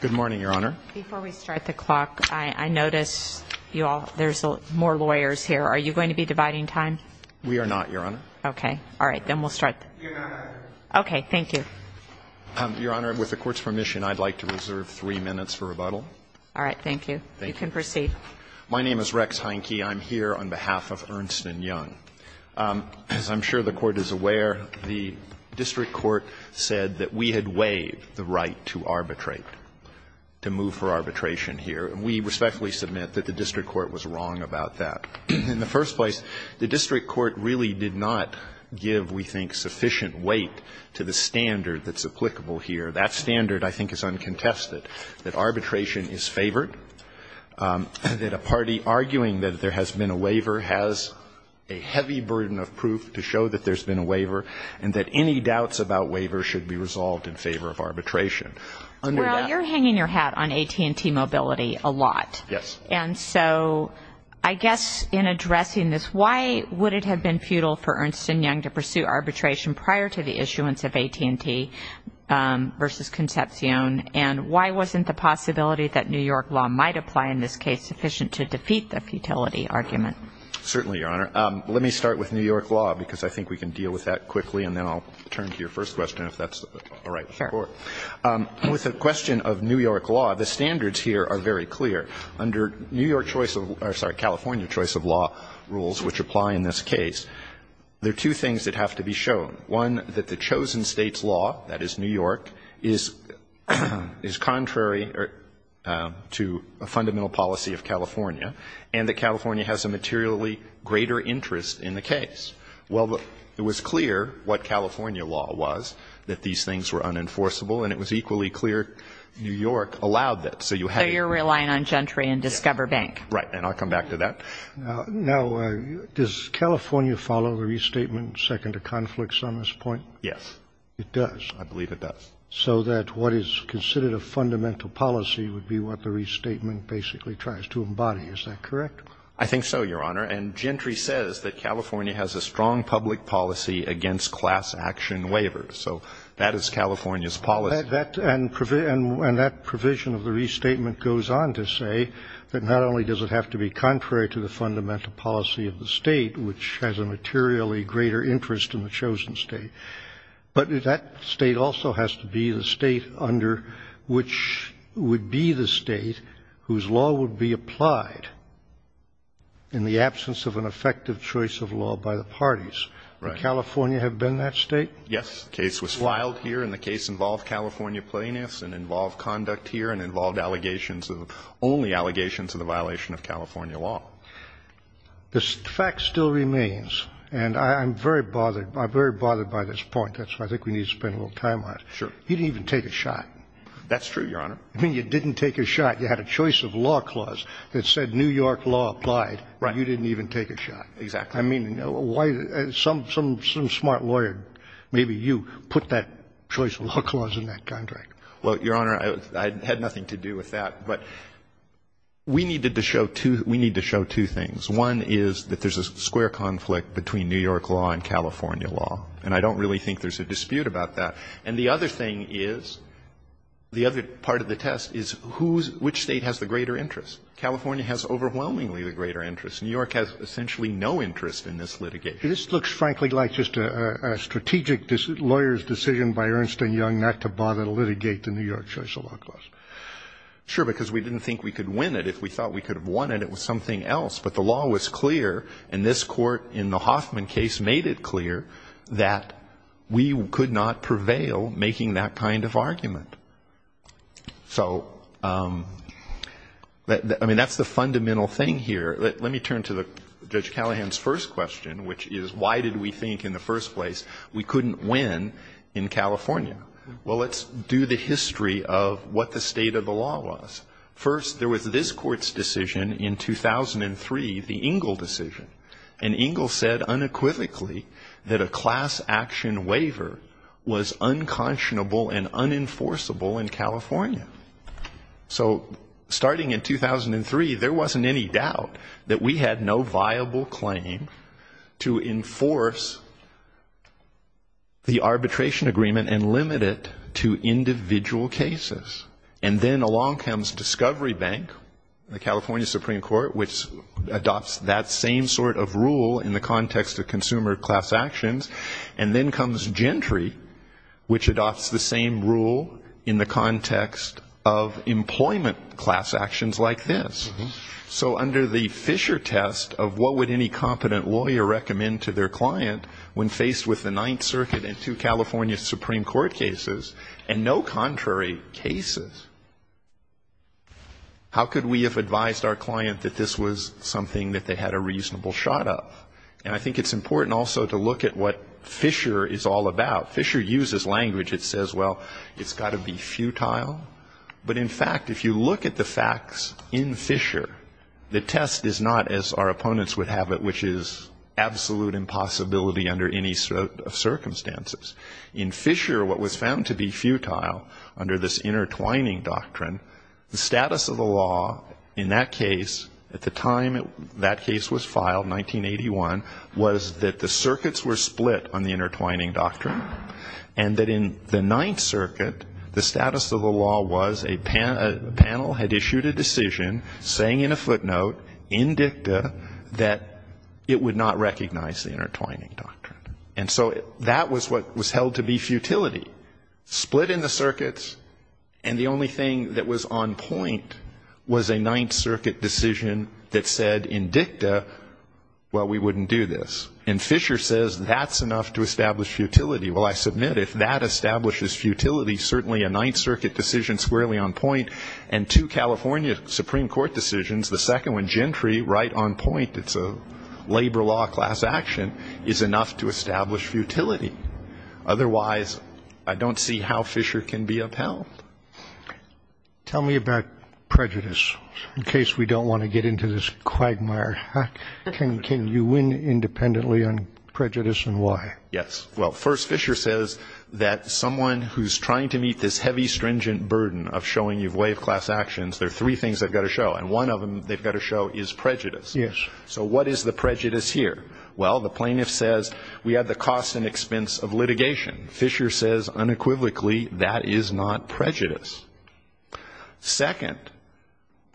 Good morning, Your Honor. Before we start the clock, I notice you all, there's more lawyers here. Are you going to be dividing time? We are not, Your Honor. Okay. All right. Then we'll start. Okay. Thank you. Your Honor, with the court's permission, I'd like to reserve three minutes for rebuttal. All right. Thank you. You can proceed. My name is Rex Heineke. I'm here on behalf of Ernst & Young. As I'm sure the Court is aware, the district court said that we had waived the right to arbitrate, to move for arbitration here. And we respectfully submit that the district court was wrong about that. In the first place, the district court really did not give, we think, sufficient weight to the standard that's applicable here. That standard, I think, is uncontested, that arbitration is favored, that a party arguing that there has been a waiver has a heavy burden of proof to show that there's been a waiver and that any doubts about waivers should be resolved in favor of arbitration. Well, you're hanging your hat on AT&T Mobility a lot. Yes. And so I guess in addressing this, why would it have been futile for Ernst & Young to pursue arbitration prior to the issuance of AT&T versus Concepcion? And why wasn't the possibility that New York law might apply in this case sufficient to defeat the futility argument? Certainly, Your Honor. Let me start with New York law, because I think we can deal with that quickly, and then I'll turn to your first question, if that's all right with the Court. Sure. With the question of New York law, the standards here are very clear. Under New York choice of law or, sorry, California choice of law rules, which apply in this case, there are two things that have to be shown. One, that the chosen state's law, that is New York, is contrary to a fundamental policy of California, and that California has a materially greater interest in the case. Well, it was clear what California law was, that these things were unenforceable, and it was equally clear New York allowed that. So you're relying on Gentry and Discover Bank. Right. And I'll come back to that. Now, does California follow the restatement second to conflicts on this point? Yes. It does? I believe it does. So that what is considered a fundamental policy would be what the restatement basically tries to embody, is that correct? I think so, Your Honor. And Gentry says that California has a strong public policy against class action waivers. So that is California's policy. And that provision of the restatement goes on to say that not only does it have to be contrary to the fundamental policy of the state, which has a materially greater interest in the chosen state, but that state also has to be the state under which would be the state whose law would be applied in the absence of an effective choice of law by the parties. Right. Would California have been that state? Yes. The case was filed here, and the case involved California plaintiffs and involved conduct here and involved allegations of, only allegations of the violation of California law. The fact still remains, and I'm very bothered. I'm very bothered by this point. That's why I think we need to spend a little time on it. Sure. You didn't even take a shot. That's true, Your Honor. I mean, you didn't take a shot. You had a choice of law clause that said New York law applied. Right. You didn't even take a shot. Exactly. I mean, why, some smart lawyer, maybe you, put that choice of law clause in that contract. Well, Your Honor, I had nothing to do with that. But we needed to show two, we need to show two things. One is that there's a square conflict between New York law and California law, and I don't really think there's a dispute about that. And the other thing is, the other part of the test is who's, which state has the greater interest. California has overwhelmingly the greater interest. New York has essentially no interest in this litigation. This looks, frankly, like just a strategic lawyer's decision by Ernst & Young not to litigate the New York choice of law clause. Sure, because we didn't think we could win it. If we thought we could have won it, it was something else. But the law was clear, and this court in the Hoffman case made it clear that we could not prevail making that kind of argument. So, I mean, that's the fundamental thing here. Let me turn to Judge Callahan's first question, which is, why did we think in the first place we couldn't win in California? Well, let's do the history of what the state of the law was. First, there was this court's decision in 2003, the Engle decision. And Engle said unequivocally that a class action waiver was unconscionable and unenforceable in California. So, starting in 2003, there wasn't any doubt that we had no viable claim to enforce the And then along comes Discovery Bank, the California Supreme Court, which adopts that same sort of rule in the context of consumer class actions. And then comes Gentry, which adopts the same rule in the context of employment class actions like this. So, under the Fisher test of what would any competent lawyer recommend to their And no contrary cases. How could we have advised our client that this was something that they had a reasonable shot of? And I think it's important also to look at what Fisher is all about. Fisher uses language that says, well, it's got to be futile. But, in fact, if you look at the facts in Fisher, the test is not, as our opponents would have it, which is absolute impossibility under any sort of circumstances. In Fisher, what was found to be futile under this intertwining doctrine, the status of the law in that case, at the time that case was filed, 1981, was that the circuits were split on the intertwining doctrine. And that in the Ninth Circuit, the status of the law was a panel had issued a decision saying in a footnote, in dicta, that it would not recognize the intertwining doctrine. And so that was what was held to be futility. Split in the circuits, and the only thing that was on point was a Ninth Circuit decision that said in dicta, well, we wouldn't do this. And Fisher says that's enough to establish futility. Well, I submit if that establishes futility, certainly a Ninth Circuit decision squarely on point, and two California Supreme Court decisions, the second one Gentry right on point, it's a labor law class action, is enough to establish futility. Otherwise, I don't see how Fisher can be upheld. Tell me about prejudice, in case we don't want to get into this quagmire. Can you win independently on prejudice and why? Yes. Well, first, Fisher says that someone who's trying to meet this heavy, stringent burden of showing you wave class actions, there are three things they've got to show. And one of them they've got to show is prejudice. Yes. So what is the prejudice here? Well, the plaintiff says we have the cost and expense of litigation. Fisher says unequivocally that is not prejudice. Second,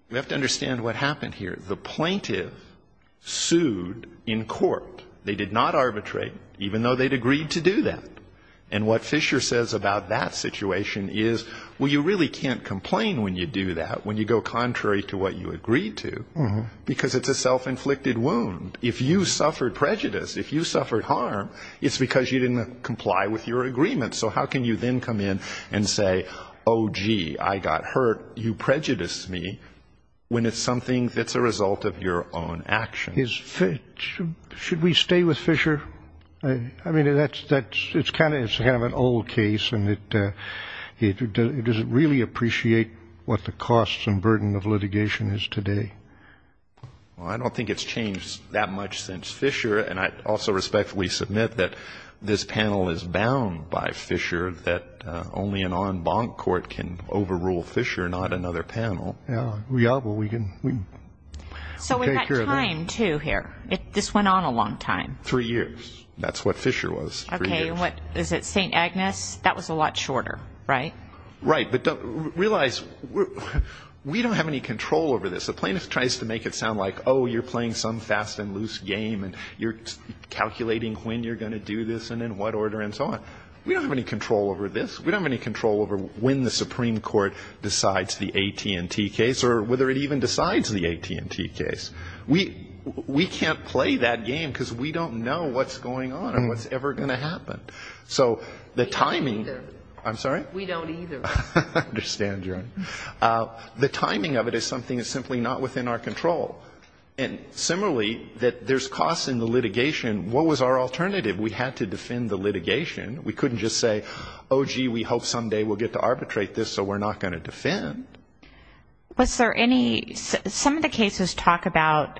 we have to understand what happened here. The plaintiff sued in court. They did not arbitrate, even though they'd agreed to do that. And what Fisher says about that situation is, well, you really can't complain when you do that, when you go contrary to what you agreed to, because it's a self-inflicted wound. If you suffered prejudice, if you suffered harm, it's because you didn't comply with your agreement. So how can you then come in and say, oh, gee, I got hurt. You prejudiced me, when it's something that's a result of your own action. Should we stay with Fisher? I mean, it's kind of an old case. Does it really appreciate what the costs and burden of litigation is today? Well, I don't think it's changed that much since Fisher, and I also respectfully submit that this panel is bound by Fisher, that only an en banc court can overrule Fisher, not another panel. We are, but we can take care of that. So we've got time, too, here. This went on a long time. Three years. That's what Fisher was, three years. Okay, and what, is it St. Agnes? That was a lot shorter, right? Right, but realize we don't have any control over this. A plaintiff tries to make it sound like, oh, you're playing some fast and loose game, and you're calculating when you're going to do this and in what order and so on. We don't have any control over this. We don't have any control over when the Supreme Court decides the AT&T case or whether it even decides the AT&T case. We can't play that game because we don't know what's going on and what's ever going to happen. So the timing. We don't either. I'm sorry? We don't either. I understand, Joan. The timing of it is something that's simply not within our control. And similarly, there's costs in the litigation. What was our alternative? We had to defend the litigation. We couldn't just say, oh, gee, we hope someday we'll get to arbitrate this so we're not going to defend. Was there any – some of the cases talk about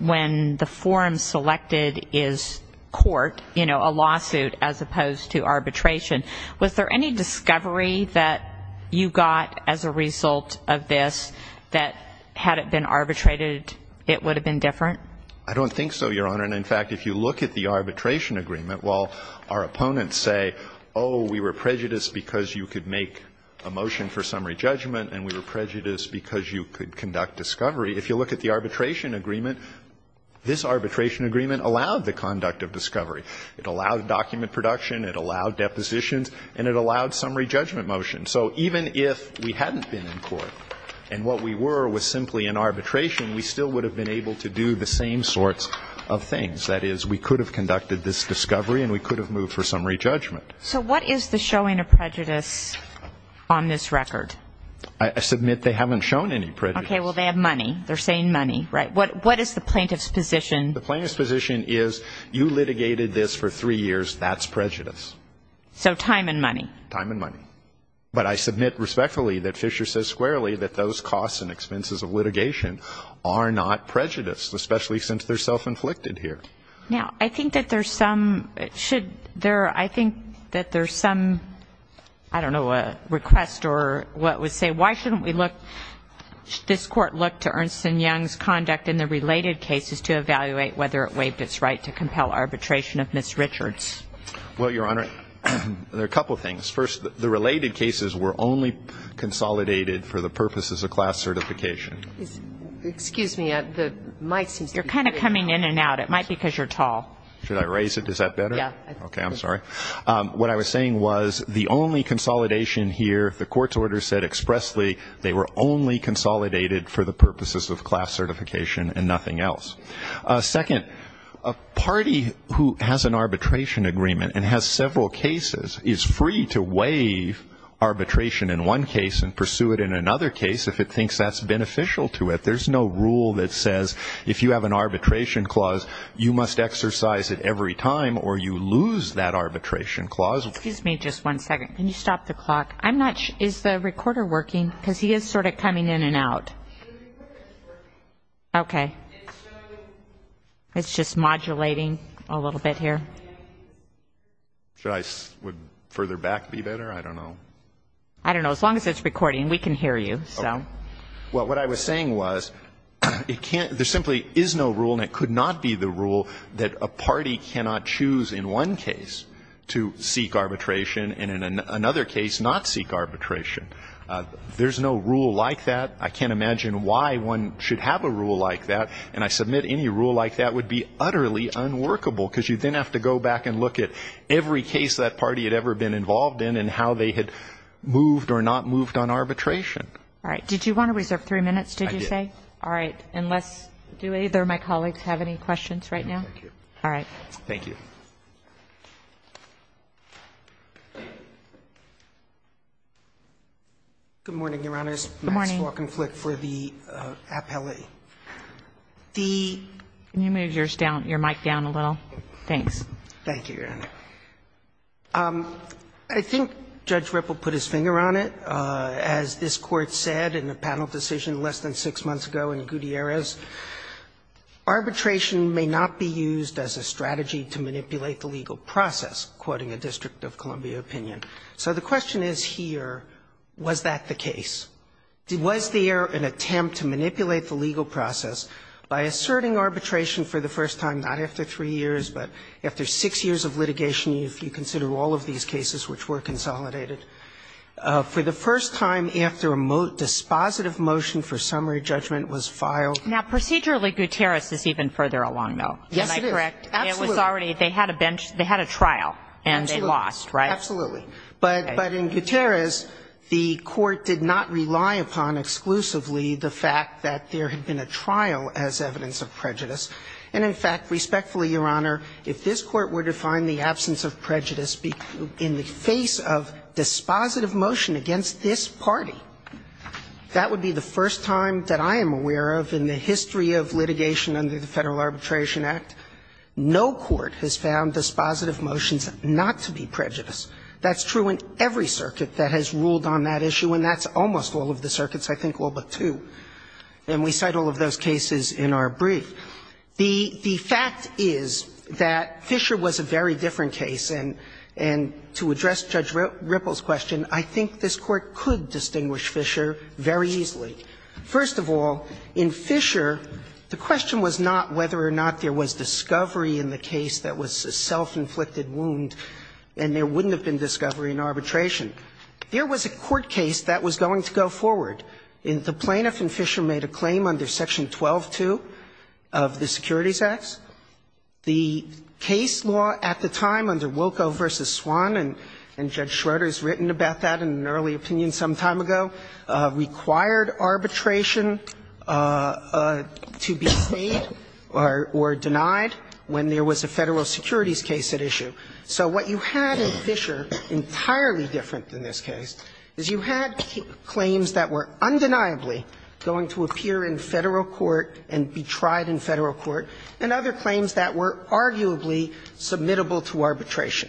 when the forum selected is court, you know, a lawsuit as opposed to arbitration. Was there any discovery that you got as a result of this that had it been arbitrated, it would have been different? I don't think so, Your Honor. And, in fact, if you look at the arbitration agreement, while our opponents say, oh, we were prejudiced because you could make a motion for summary judgment and we were prejudiced because you could conduct discovery, if you look at the arbitration agreement, this arbitration agreement allowed the conduct of discovery. It allowed document production. It allowed depositions. And it allowed summary judgment motion. So even if we hadn't been in court and what we were was simply an arbitration, we still would have been able to do the same sorts of things. That is, we could have conducted this discovery and we could have moved for summary judgment. So what is the showing of prejudice on this record? I submit they haven't shown any prejudice. Okay. Well, they have money. They're saying money, right? What is the plaintiff's position? The plaintiff's position is you litigated this for three years. That's prejudice. So time and money. Time and money. But I submit respectfully that Fisher says squarely that those costs and expenses of litigation are not prejudice, especially since they're self-inflicted here. Now, I think that there's some, should there, I think that there's some, I don't know, a request or what would say why shouldn't we look, this Court look to Ernst & Young's conduct in the related cases to evaluate whether it waived its right to compel arbitration of Ms. Richards? Well, Your Honor, there are a couple of things. First, the related cases were only consolidated for the purposes of class certification. Excuse me. The mic seems to be very loud. You're kind of coming in and out. It might be because you're tall. Should I raise it? Is that better? Yeah. Okay. I'm sorry. What I was saying was the only consolidation here, the court's order said expressly they were only consolidated for the purposes of class certification and nothing else. Second, a party who has an arbitration agreement and has several cases is free to waive arbitration in one case and pursue it in another case if it thinks that's beneficial to it. There's no rule that says if you have an arbitration clause, you must exercise it every time or you lose that arbitration clause. Excuse me just one second. Can you stop the clock? Is the recorder working? Because he is sort of coming in and out. The recorder is working. Okay. It's just modulating a little bit here. Should I further back be better? I don't know. I don't know. As long as it's recording, we can hear you. Well, what I was saying was there simply is no rule and it could not be the rule that a party cannot choose in one case to seek arbitration and in another case not seek arbitration. There's no rule like that. I can't imagine why one should have a rule like that. And I submit any rule like that would be utterly unworkable because you then have to go back and look at every case that party had ever been involved in and how they had moved or not moved on arbitration. All right. Did you want to reserve three minutes, did you say? I did. All right. Unless do either of my colleagues have any questions right now? No, thank you. All right. Thank you. Good morning, Your Honors. Good morning. Max Walkenflik for the appellee. Can you move your mic down a little? Thanks. Thank you, Your Honor. I think Judge Ripple put his finger on it. As this Court said in the panel decision less than six months ago in Gutierrez, arbitration may not be used as a strategy to manipulate the legal process, quoting a District of Columbia opinion. So the question is here, was that the case? Was there an attempt to manipulate the legal process by asserting arbitration for the first time, not after three years, but after six years of litigation if you consider all of these cases which were consolidated, for the first time after a dispositive motion for summary judgment was filed? Now, procedurally, Gutierrez is even further along, though. Yes, it is. Am I correct? Absolutely. It was already they had a trial and they lost, right? Absolutely. But in Gutierrez, the Court did not rely upon exclusively the fact that there had been a trial as evidence of prejudice. And, in fact, respectfully, Your Honor, if this Court were to find the absence of prejudice in the face of dispositive motion against this party, that would be the first time that I am aware of in the history of litigation under the Federal Arbitration Act, no court has found dispositive motions not to be prejudice. That's true in every circuit that has ruled on that issue, and that's almost all of the circuits, I think all but two. And we cite all of those cases in our brief. The fact is that Fisher was a very different case, and to address Judge Ripple's question, I think this Court could distinguish Fisher very easily. First of all, in Fisher, the question was not whether or not there was discovery in the case that was a self-inflicted wound and there wouldn't have been discovery in arbitration. There was a court case that was going to go forward. The plaintiff in Fisher made a claim under Section 12-2 of the Securities Acts. The case law at the time under Wilko v. Swan, and Judge Schroeder has written about that in an early opinion some time ago, required arbitration to be made or denied when there was a Federal securities case at issue. So what you had in Fisher, entirely different than this case, is you had claims that were undeniably going to appear in Federal court and be tried in Federal court, and other claims that were arguably submittable to arbitration.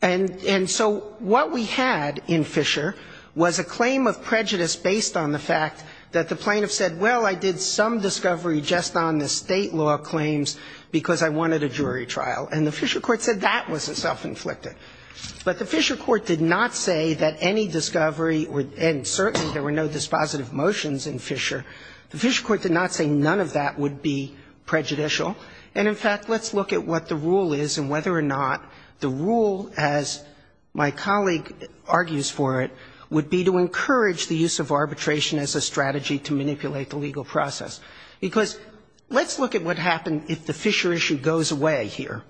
And so what we had in Fisher was a claim of prejudice based on the fact that the plaintiff said, well, I did some discovery just on the State law claims because I wanted a jury trial. And the Fisher court said that was a self-inflicted. But the Fisher court did not say that any discovery and certainly there were no dispositive motions in Fisher. The Fisher court did not say none of that would be prejudicial. And in fact, let's look at what the rule is and whether or not the rule, as my colleague argues for it, would be to encourage the use of arbitration as a strategy to manipulate the legal process. Because let's look at what happened if the Fisher issue goes away here,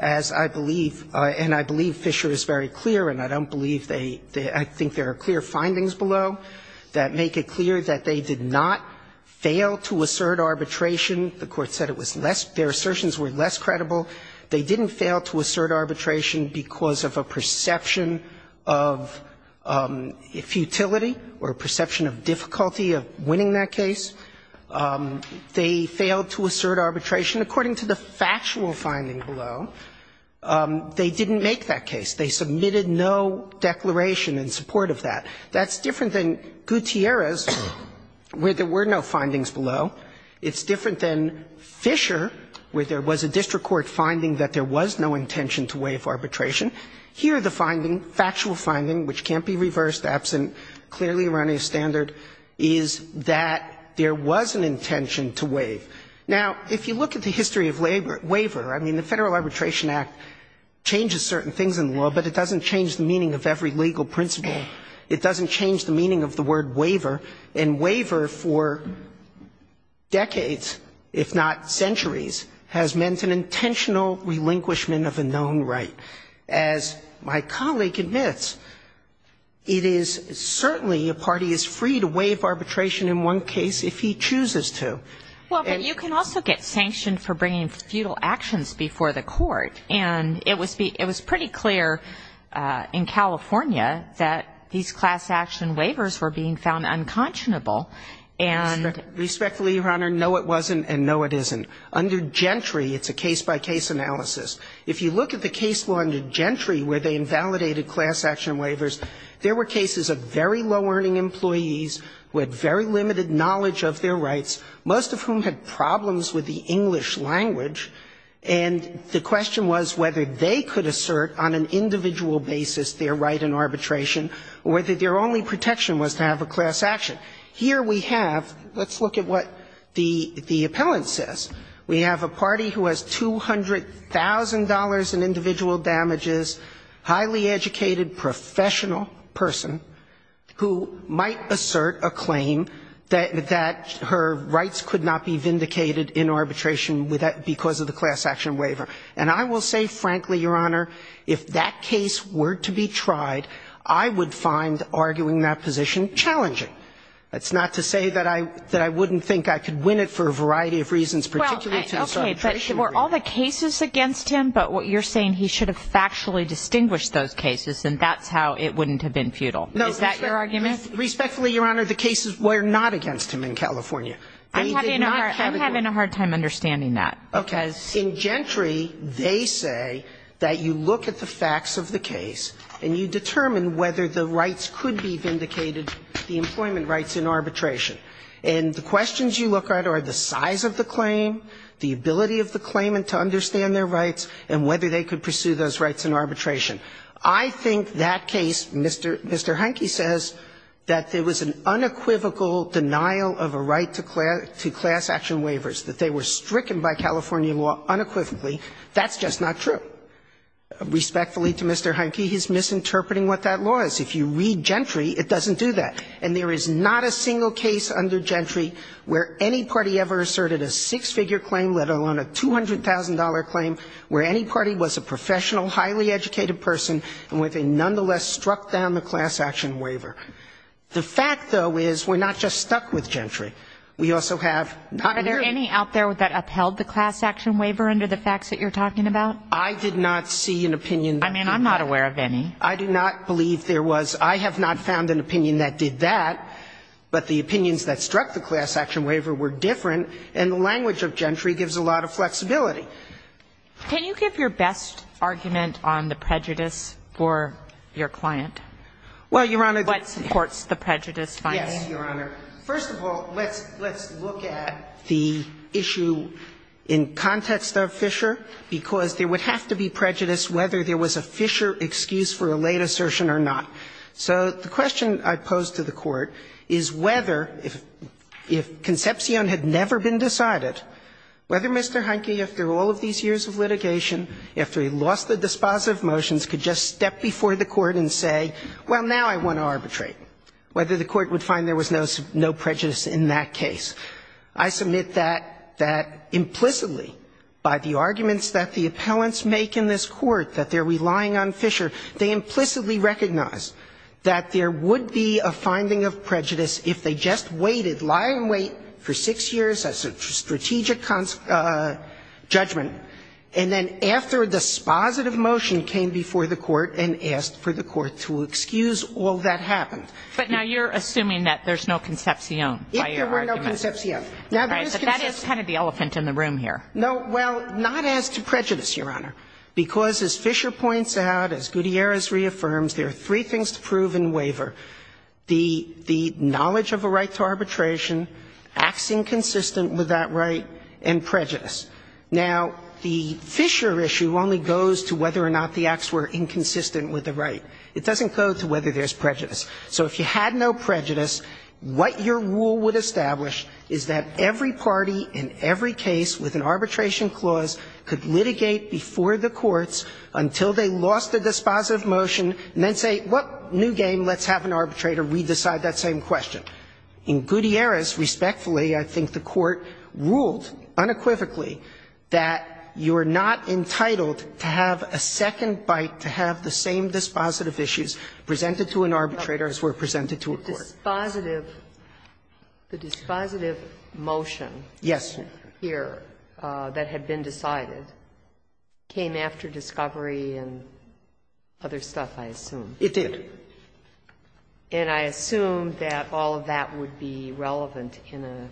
as I believe and I believe Fisher is very clear and I don't believe they, I think there are clear findings below that make it clear that they did not fail to assert arbitration. The Court said it was less, their assertions were less credible. They didn't fail to assert arbitration because of a perception of futility or a perception of difficulty of winning that case. They failed to assert arbitration. According to the factual finding below, they didn't make that case. They submitted no declaration in support of that. That's different than Gutierrez, where there were no findings below. It's different than Fisher, where there was a district court finding that there was no intention to waive arbitration. Here the finding, factual finding, which can't be reversed, absent clearly Iranian standard, is that there was an intention to waive. Now, if you look at the history of waiver, I mean, the Federal Arbitration Act changes certain things in the law, but it doesn't change the meaning of every legal principle. It doesn't change the meaning of the word waiver. And waiver for decades, if not centuries, has meant an intentional relinquishment of a known right. As my colleague admits, it is certainly a party is free to waive arbitration in one case if he chooses to. Well, but you can also get sanctioned for bringing futile actions before the court. And it was pretty clear in California that these class action waivers were being found unconscionable. And the ---- Respectfully, Your Honor, no, it wasn't, and no, it isn't. Under Gentry, it's a case-by-case analysis. If you look at the case law under Gentry, where they invalidated class action waivers, there were cases of very low-earning employees with very limited knowledge of their rights. Most of whom had problems with the English language, and the question was whether they could assert on an individual basis their right in arbitration or whether their only protection was to have a class action. Here we have ---- let's look at what the appellant says. We have a party who has $200,000 in individual damages, highly educated professional person who might assert a claim that her rights could not be vindicated in arbitration because of the class action waiver. And I will say, frankly, Your Honor, if that case were to be tried, I would find arguing that position challenging. That's not to say that I wouldn't think I could win it for a variety of reasons, particularly to the arbitration ---- Well, okay, but were all the cases against him? But you're saying he should have factually distinguished those cases, and that's how it wouldn't have been futile. Is that your argument? Respectfully, Your Honor, the cases were not against him in California. I'm having a hard time understanding that. Okay. Because in Gentry, they say that you look at the facts of the case, and you determine whether the rights could be vindicated, the employment rights in arbitration. And the questions you look at are the size of the claim, the ability of the claimant to understand their rights, and whether they could pursue those rights in arbitration. I think that case, Mr. Hunke says, that there was an unequivocal denial of a right to class action waivers, that they were stricken by California law unequivocally. That's just not true. Respectfully to Mr. Hunke, he's misinterpreting what that law is. If you read Gentry, it doesn't do that. And there is not a single case under Gentry where any party ever asserted a six-figure claim, let alone a $200,000 claim, where any party was a professional, highly educated person, and where they nonetheless struck down the class action waiver. The fact, though, is we're not just stuck with Gentry. We also have not really. Are there any out there that upheld the class action waiver under the facts that you're talking about? I did not see an opinion. I mean, I'm not aware of any. I do not believe there was. I have not found an opinion that did that. But the opinions that struck the class action waiver were different, and the language of Gentry gives a lot of flexibility. Can you give your best argument on the prejudice for your client? Well, Your Honor. What supports the prejudice finds? Yes, Your Honor. First of all, let's look at the issue in context of Fisher, because there would have to be prejudice whether there was a Fisher excuse for a late assertion or not. So the question I pose to the Court is whether, if Concepcion had never been decided, whether Mr. Heineke, after all of these years of litigation, after he lost the dispositive motions, could just step before the Court and say, well, now I want to arbitrate, whether the Court would find there was no prejudice in that case. I submit that implicitly, by the arguments that the appellants make in this Court, that they're relying on Fisher, they implicitly recognize that there would be a finding of prejudice if they just waited, lie in wait for 6 years as a strategic judgment, and then after the dispositive motion came before the Court and asked for the Court to excuse, all that happened. But now you're assuming that there's no Concepcion by your argument. If there were no Concepcion. All right. But that is kind of the elephant in the room here. No. Well, not as to prejudice, Your Honor. Because, as Fisher points out, as Gutierrez reaffirms, there are three things to prove in waiver, the knowledge of a right to arbitration, acts inconsistent with that right, and prejudice. Now, the Fisher issue only goes to whether or not the acts were inconsistent with the right. It doesn't go to whether there's prejudice. So if you had no prejudice, what your rule would establish is that every party in every case with an arbitration clause could litigate before the courts until they lost the dispositive motion, and then say, what new game? Let's have an arbitrator. We decide that same question. In Gutierrez, respectfully, I think the Court ruled unequivocally that you are not entitled to have a second bite to have the same dispositive issues presented to an arbitrator as were presented to a court. But the dispositive motion here that had been decided came after discovery and other stuff, I assume. It did. And I assume that all of that would be relevant in an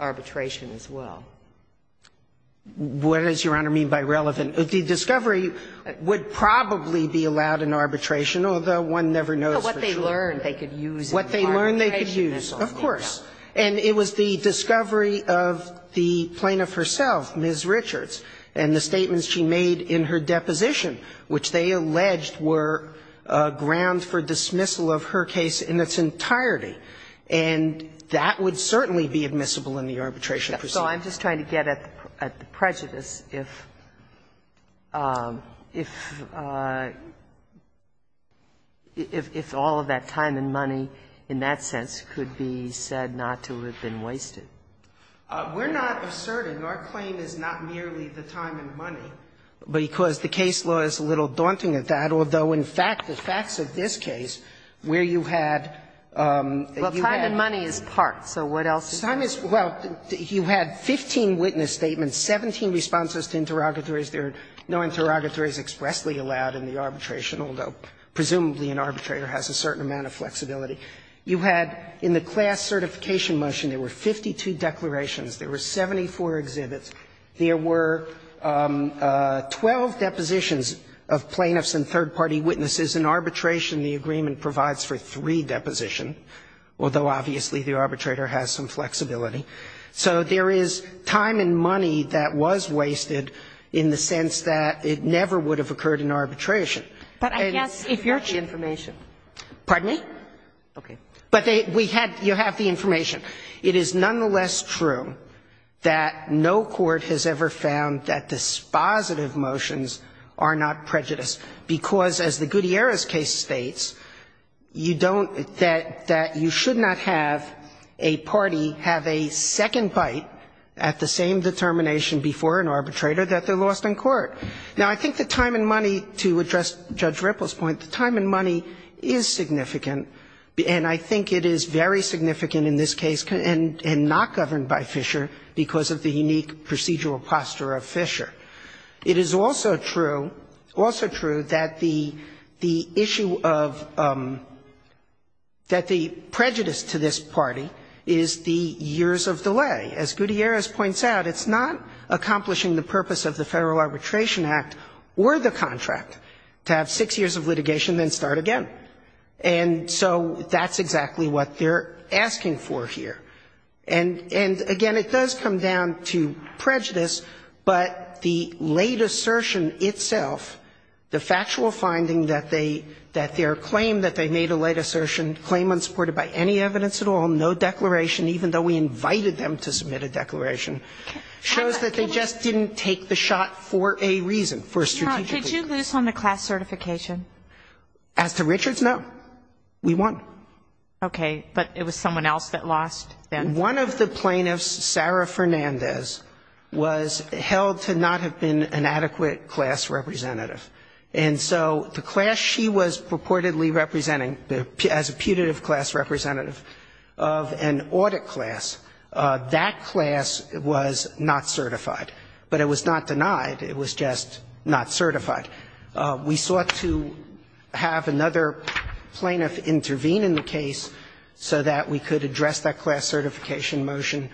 arbitration as well. What does, Your Honor, mean by relevant? The discovery would probably be allowed in arbitration, although one never knows for sure. What they learned they could use in arbitration. What they learned they could use, of course. And it was the discovery of the plaintiff herself, Ms. Richards, and the statements she made in her deposition, which they alleged were grounds for dismissal of her case in its entirety. And that would certainly be admissible in the arbitration procedure. So I'm just trying to get at the prejudice if all of that time and money in that sense could be said not to have been wasted. We're not asserting. Our claim is not merely the time and money, because the case law is a little daunting at that, although, in fact, the facts of this case, where you had, you had. Well, time and money is part, so what else is part? Well, you had 15 witness statements, 17 responses to interrogatories. There are no interrogatories expressly allowed in the arbitration, although, presumably, an arbitrator has a certain amount of flexibility. You had in the class certification motion, there were 52 declarations. There were 74 exhibits. There were 12 depositions of plaintiffs and third-party witnesses. In arbitration, the agreement provides for three depositions, although, obviously, the arbitrator has some flexibility. So there is time and money that was wasted in the sense that it never would have occurred in arbitration. And that's the information. Kagan. Pardon me? Okay. But we had, you have the information. It is nonetheless true that no court has ever found that dispositive motions are not prejudice, because as the Gutierrez case states, you don't, that you should not have a party have a second bite at the same determination before an arbitrator that they lost in court. Now, I think the time and money, to address Judge Ripple's point, the time and money is significant, and I think it is very significant in this case and not governed by Fisher because of the unique procedural posture of Fisher. It is also true, also true, that the issue of, that the prejudice to this party is the years of delay. As Gutierrez points out, it's not accomplishing the purpose of the Federal Arbitration Act or the contract to have six years of litigation, then start again. And so that's exactly what they're asking for here. And, again, it does come down to prejudice, but the late assertion itself, the factual finding that they, that their claim that they made a late assertion, claim unsupported by any evidence at all, no declaration, even though we invited them to submit a declaration, shows that they just didn't take the shot for a reason, for a strategic reason. Could you lose on the class certification? As to Richards, no. We won. Okay. But it was someone else that lost then? One of the plaintiffs, Sarah Fernandez, was held to not have been an adequate class representative. And so the class she was purportedly representing, as a putative class representative of an audit class, that class was not certified. But it was not denied. It was just not certified. We sought to have another plaintiff intervene in the case so that we could address that class certification motion.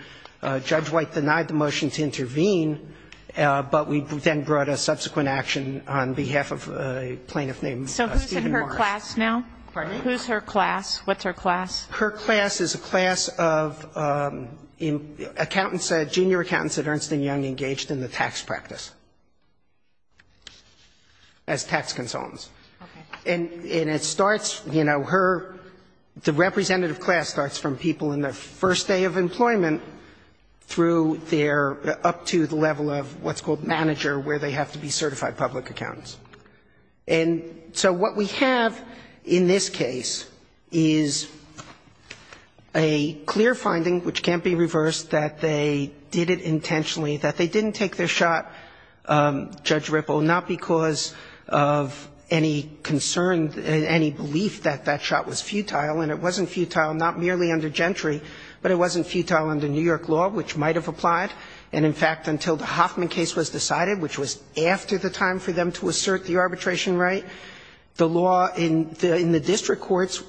Judge White denied the motion to intervene, but we then brought a subsequent action on behalf of a plaintiff named Stephen Morris. So who's in her class now? Pardon me? Who's her class? What's her class? Her class is a class of accountants, junior accountants at Ernst & Young engaged in the tax practice. As tax consultants. Okay. And it starts, you know, her the representative class starts from people in their first day of employment through their up to the level of what's called manager where they have to be certified public accountants. And so what we have in this case is a clear finding, which can't be reversed, that they did it intentionally, that they didn't take their shot, Judge Ripple, not because of any concern, any belief that that shot was futile. And it wasn't futile not merely under Gentry, but it wasn't futile under New York law, which might have applied. And, in fact, until the Hoffman case was decided, which was after the time for them to assert the arbitration right, the law in the district courts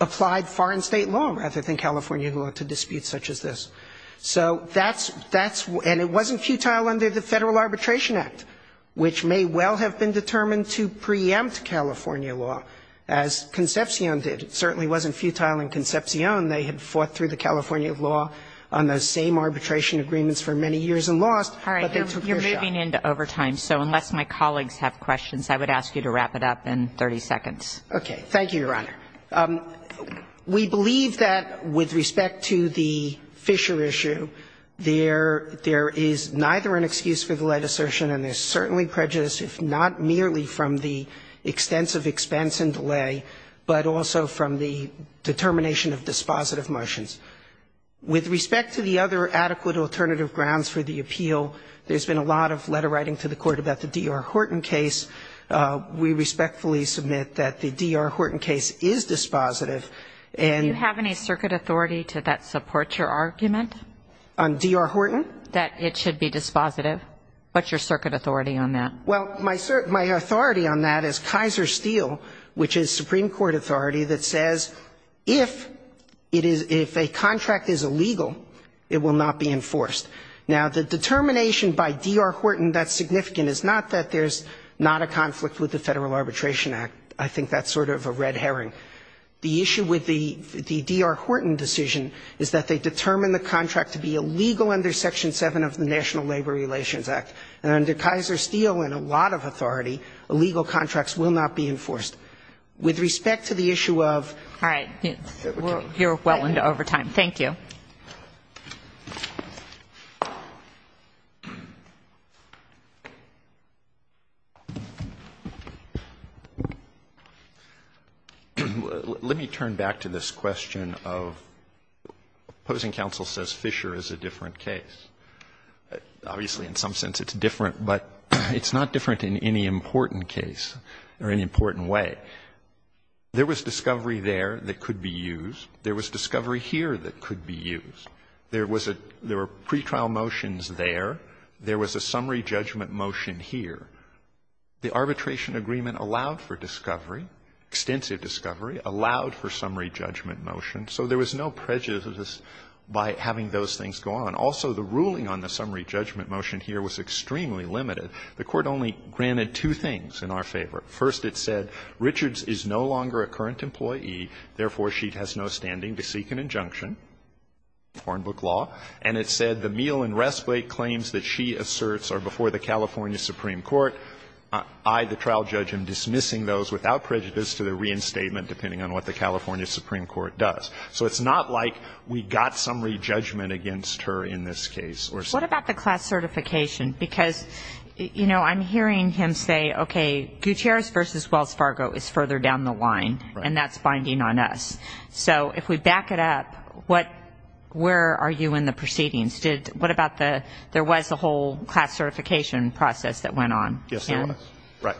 applied foreign state law rather than California law to disputes such as this. So that's, and it wasn't futile under the Federal Arbitration Act, which may well have been determined to preempt California law, as Concepcion did. It certainly wasn't futile in Concepcion. They had fought through the California law on those same arbitration agreements for many years and lost, but they took their shot. All right. You're moving into overtime, so unless my colleagues have questions, I would ask you to wrap it up in 30 seconds. Okay. Thank you, Your Honor. We believe that, with respect to the Fisher issue, there is neither an excuse for the light assertion and there's certainly prejudice, if not merely from the extensive expense and delay, but also from the determination of dispositive motions. With respect to the other adequate alternative grounds for the appeal, there's been a lot of letter writing to the Court about the D.R. Horton case. We respectfully submit that the D.R. Horton case is dispositive. Do you have any circuit authority that supports your argument? On D.R. Horton? That it should be dispositive. What's your circuit authority on that? Well, my authority on that is Kaiser Steel, which is Supreme Court authority that says if a contract is illegal, it will not be enforced. Now, the determination by D.R. Horton that's significant is not that there's not a conflict with the Federal Arbitration Act. I think that's sort of a red herring. The issue with the D.R. Horton decision is that they determine the contract to be illegal under Section 7 of the National Labor Relations Act. And under Kaiser Steel, in a lot of authority, illegal contracts will not be enforced. With respect to the issue of ---- All right. You're well into overtime. Thank you. Let me turn back to this question of opposing counsel says Fisher is a different case. Obviously, in some sense it's different, but it's not different in any important case or any important way. There was discovery there that could be used. There was discovery here that could be used. There was a ---- there were pretrial motions there. There was a summary judgment motion here. The arbitration agreement allowed for discovery, extensive discovery, allowed for summary judgment motion. So there was no prejudice by having those things go on. Also, the ruling on the summary judgment motion here was extremely limited. The Court only granted two things in our favor. First, it said, I, the trial judge, am dismissing those without prejudice to the reinstatement depending on what the California Supreme Court does. So it's not like we got summary judgment against her in this case or something. What about the class certification? Because, you know, I'm hearing him say, okay, Gutierrez v. Wells-Fargo is a different line, and that's binding on us. So if we back it up, what ---- where are you in the proceedings? What about the ---- there was a whole class certification process that went on. Yes, there was. Right.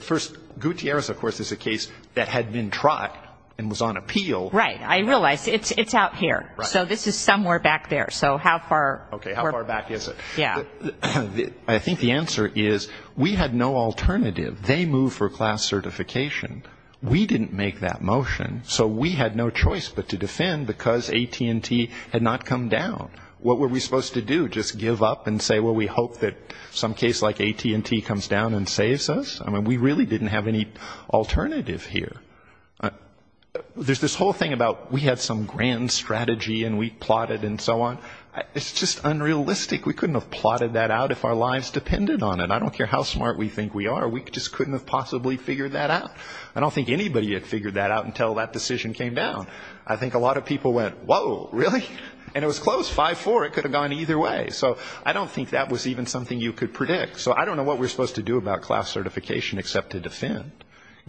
First, Gutierrez, of course, is a case that had been trot and was on appeal. Right. I realize. It's out here. So this is somewhere back there. So how far ---- Okay. How far back is it? Yeah. I think the answer is we had no alternative. They moved for class certification. We didn't make that motion. So we had no choice but to defend because AT&T had not come down. What were we supposed to do? Just give up and say, well, we hope that some case like AT&T comes down and saves us? I mean, we really didn't have any alternative here. There's this whole thing about we had some grand strategy and we plotted and so on. It's just unrealistic. We couldn't have plotted that out if our lives depended on it. I don't care how smart we think we are. We just couldn't have possibly figured that out. I don't think anybody had figured that out until that decision came down. I think a lot of people went, whoa, really? And it was close, 5-4. It could have gone either way. So I don't think that was even something you could predict. So I don't know what we're supposed to do about class certification except to defend,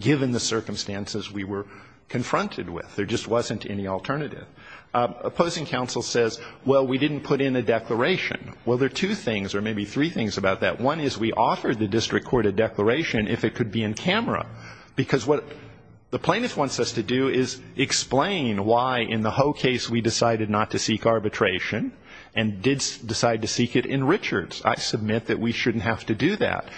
given the circumstances we were confronted with. There just wasn't any alternative. Opposing counsel says, well, we didn't put in a declaration. Well, there are two things or maybe three things about that. One is we offered the district court a declaration if it could be in camera. Because what the plaintiff wants us to do is explain why in the Ho case we decided not to seek arbitration and did decide to seek it in Richards. I submit that we shouldn't have to do that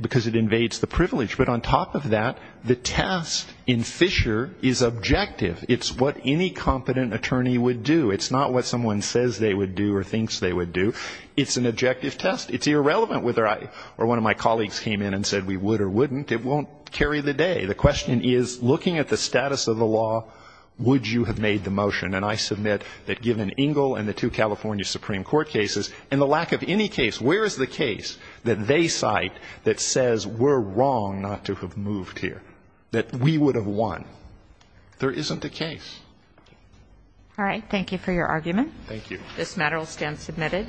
because it invades the privilege. But on top of that, the test in Fisher is objective. It's what any competent attorney would do. It's not what someone says they would do or thinks they would do. It's an objective test. It's irrelevant whether I or one of my colleagues came in and said we would or wouldn't. It won't carry the day. The question is, looking at the status of the law, would you have made the motion? And I submit that given Ingle and the two California Supreme Court cases and the lack of any case, where is the case that they cite that says we're wrong not to have moved here, that we would have won? There isn't a case. All right. Thank you for your argument. Thank you. This matter will stand submitted.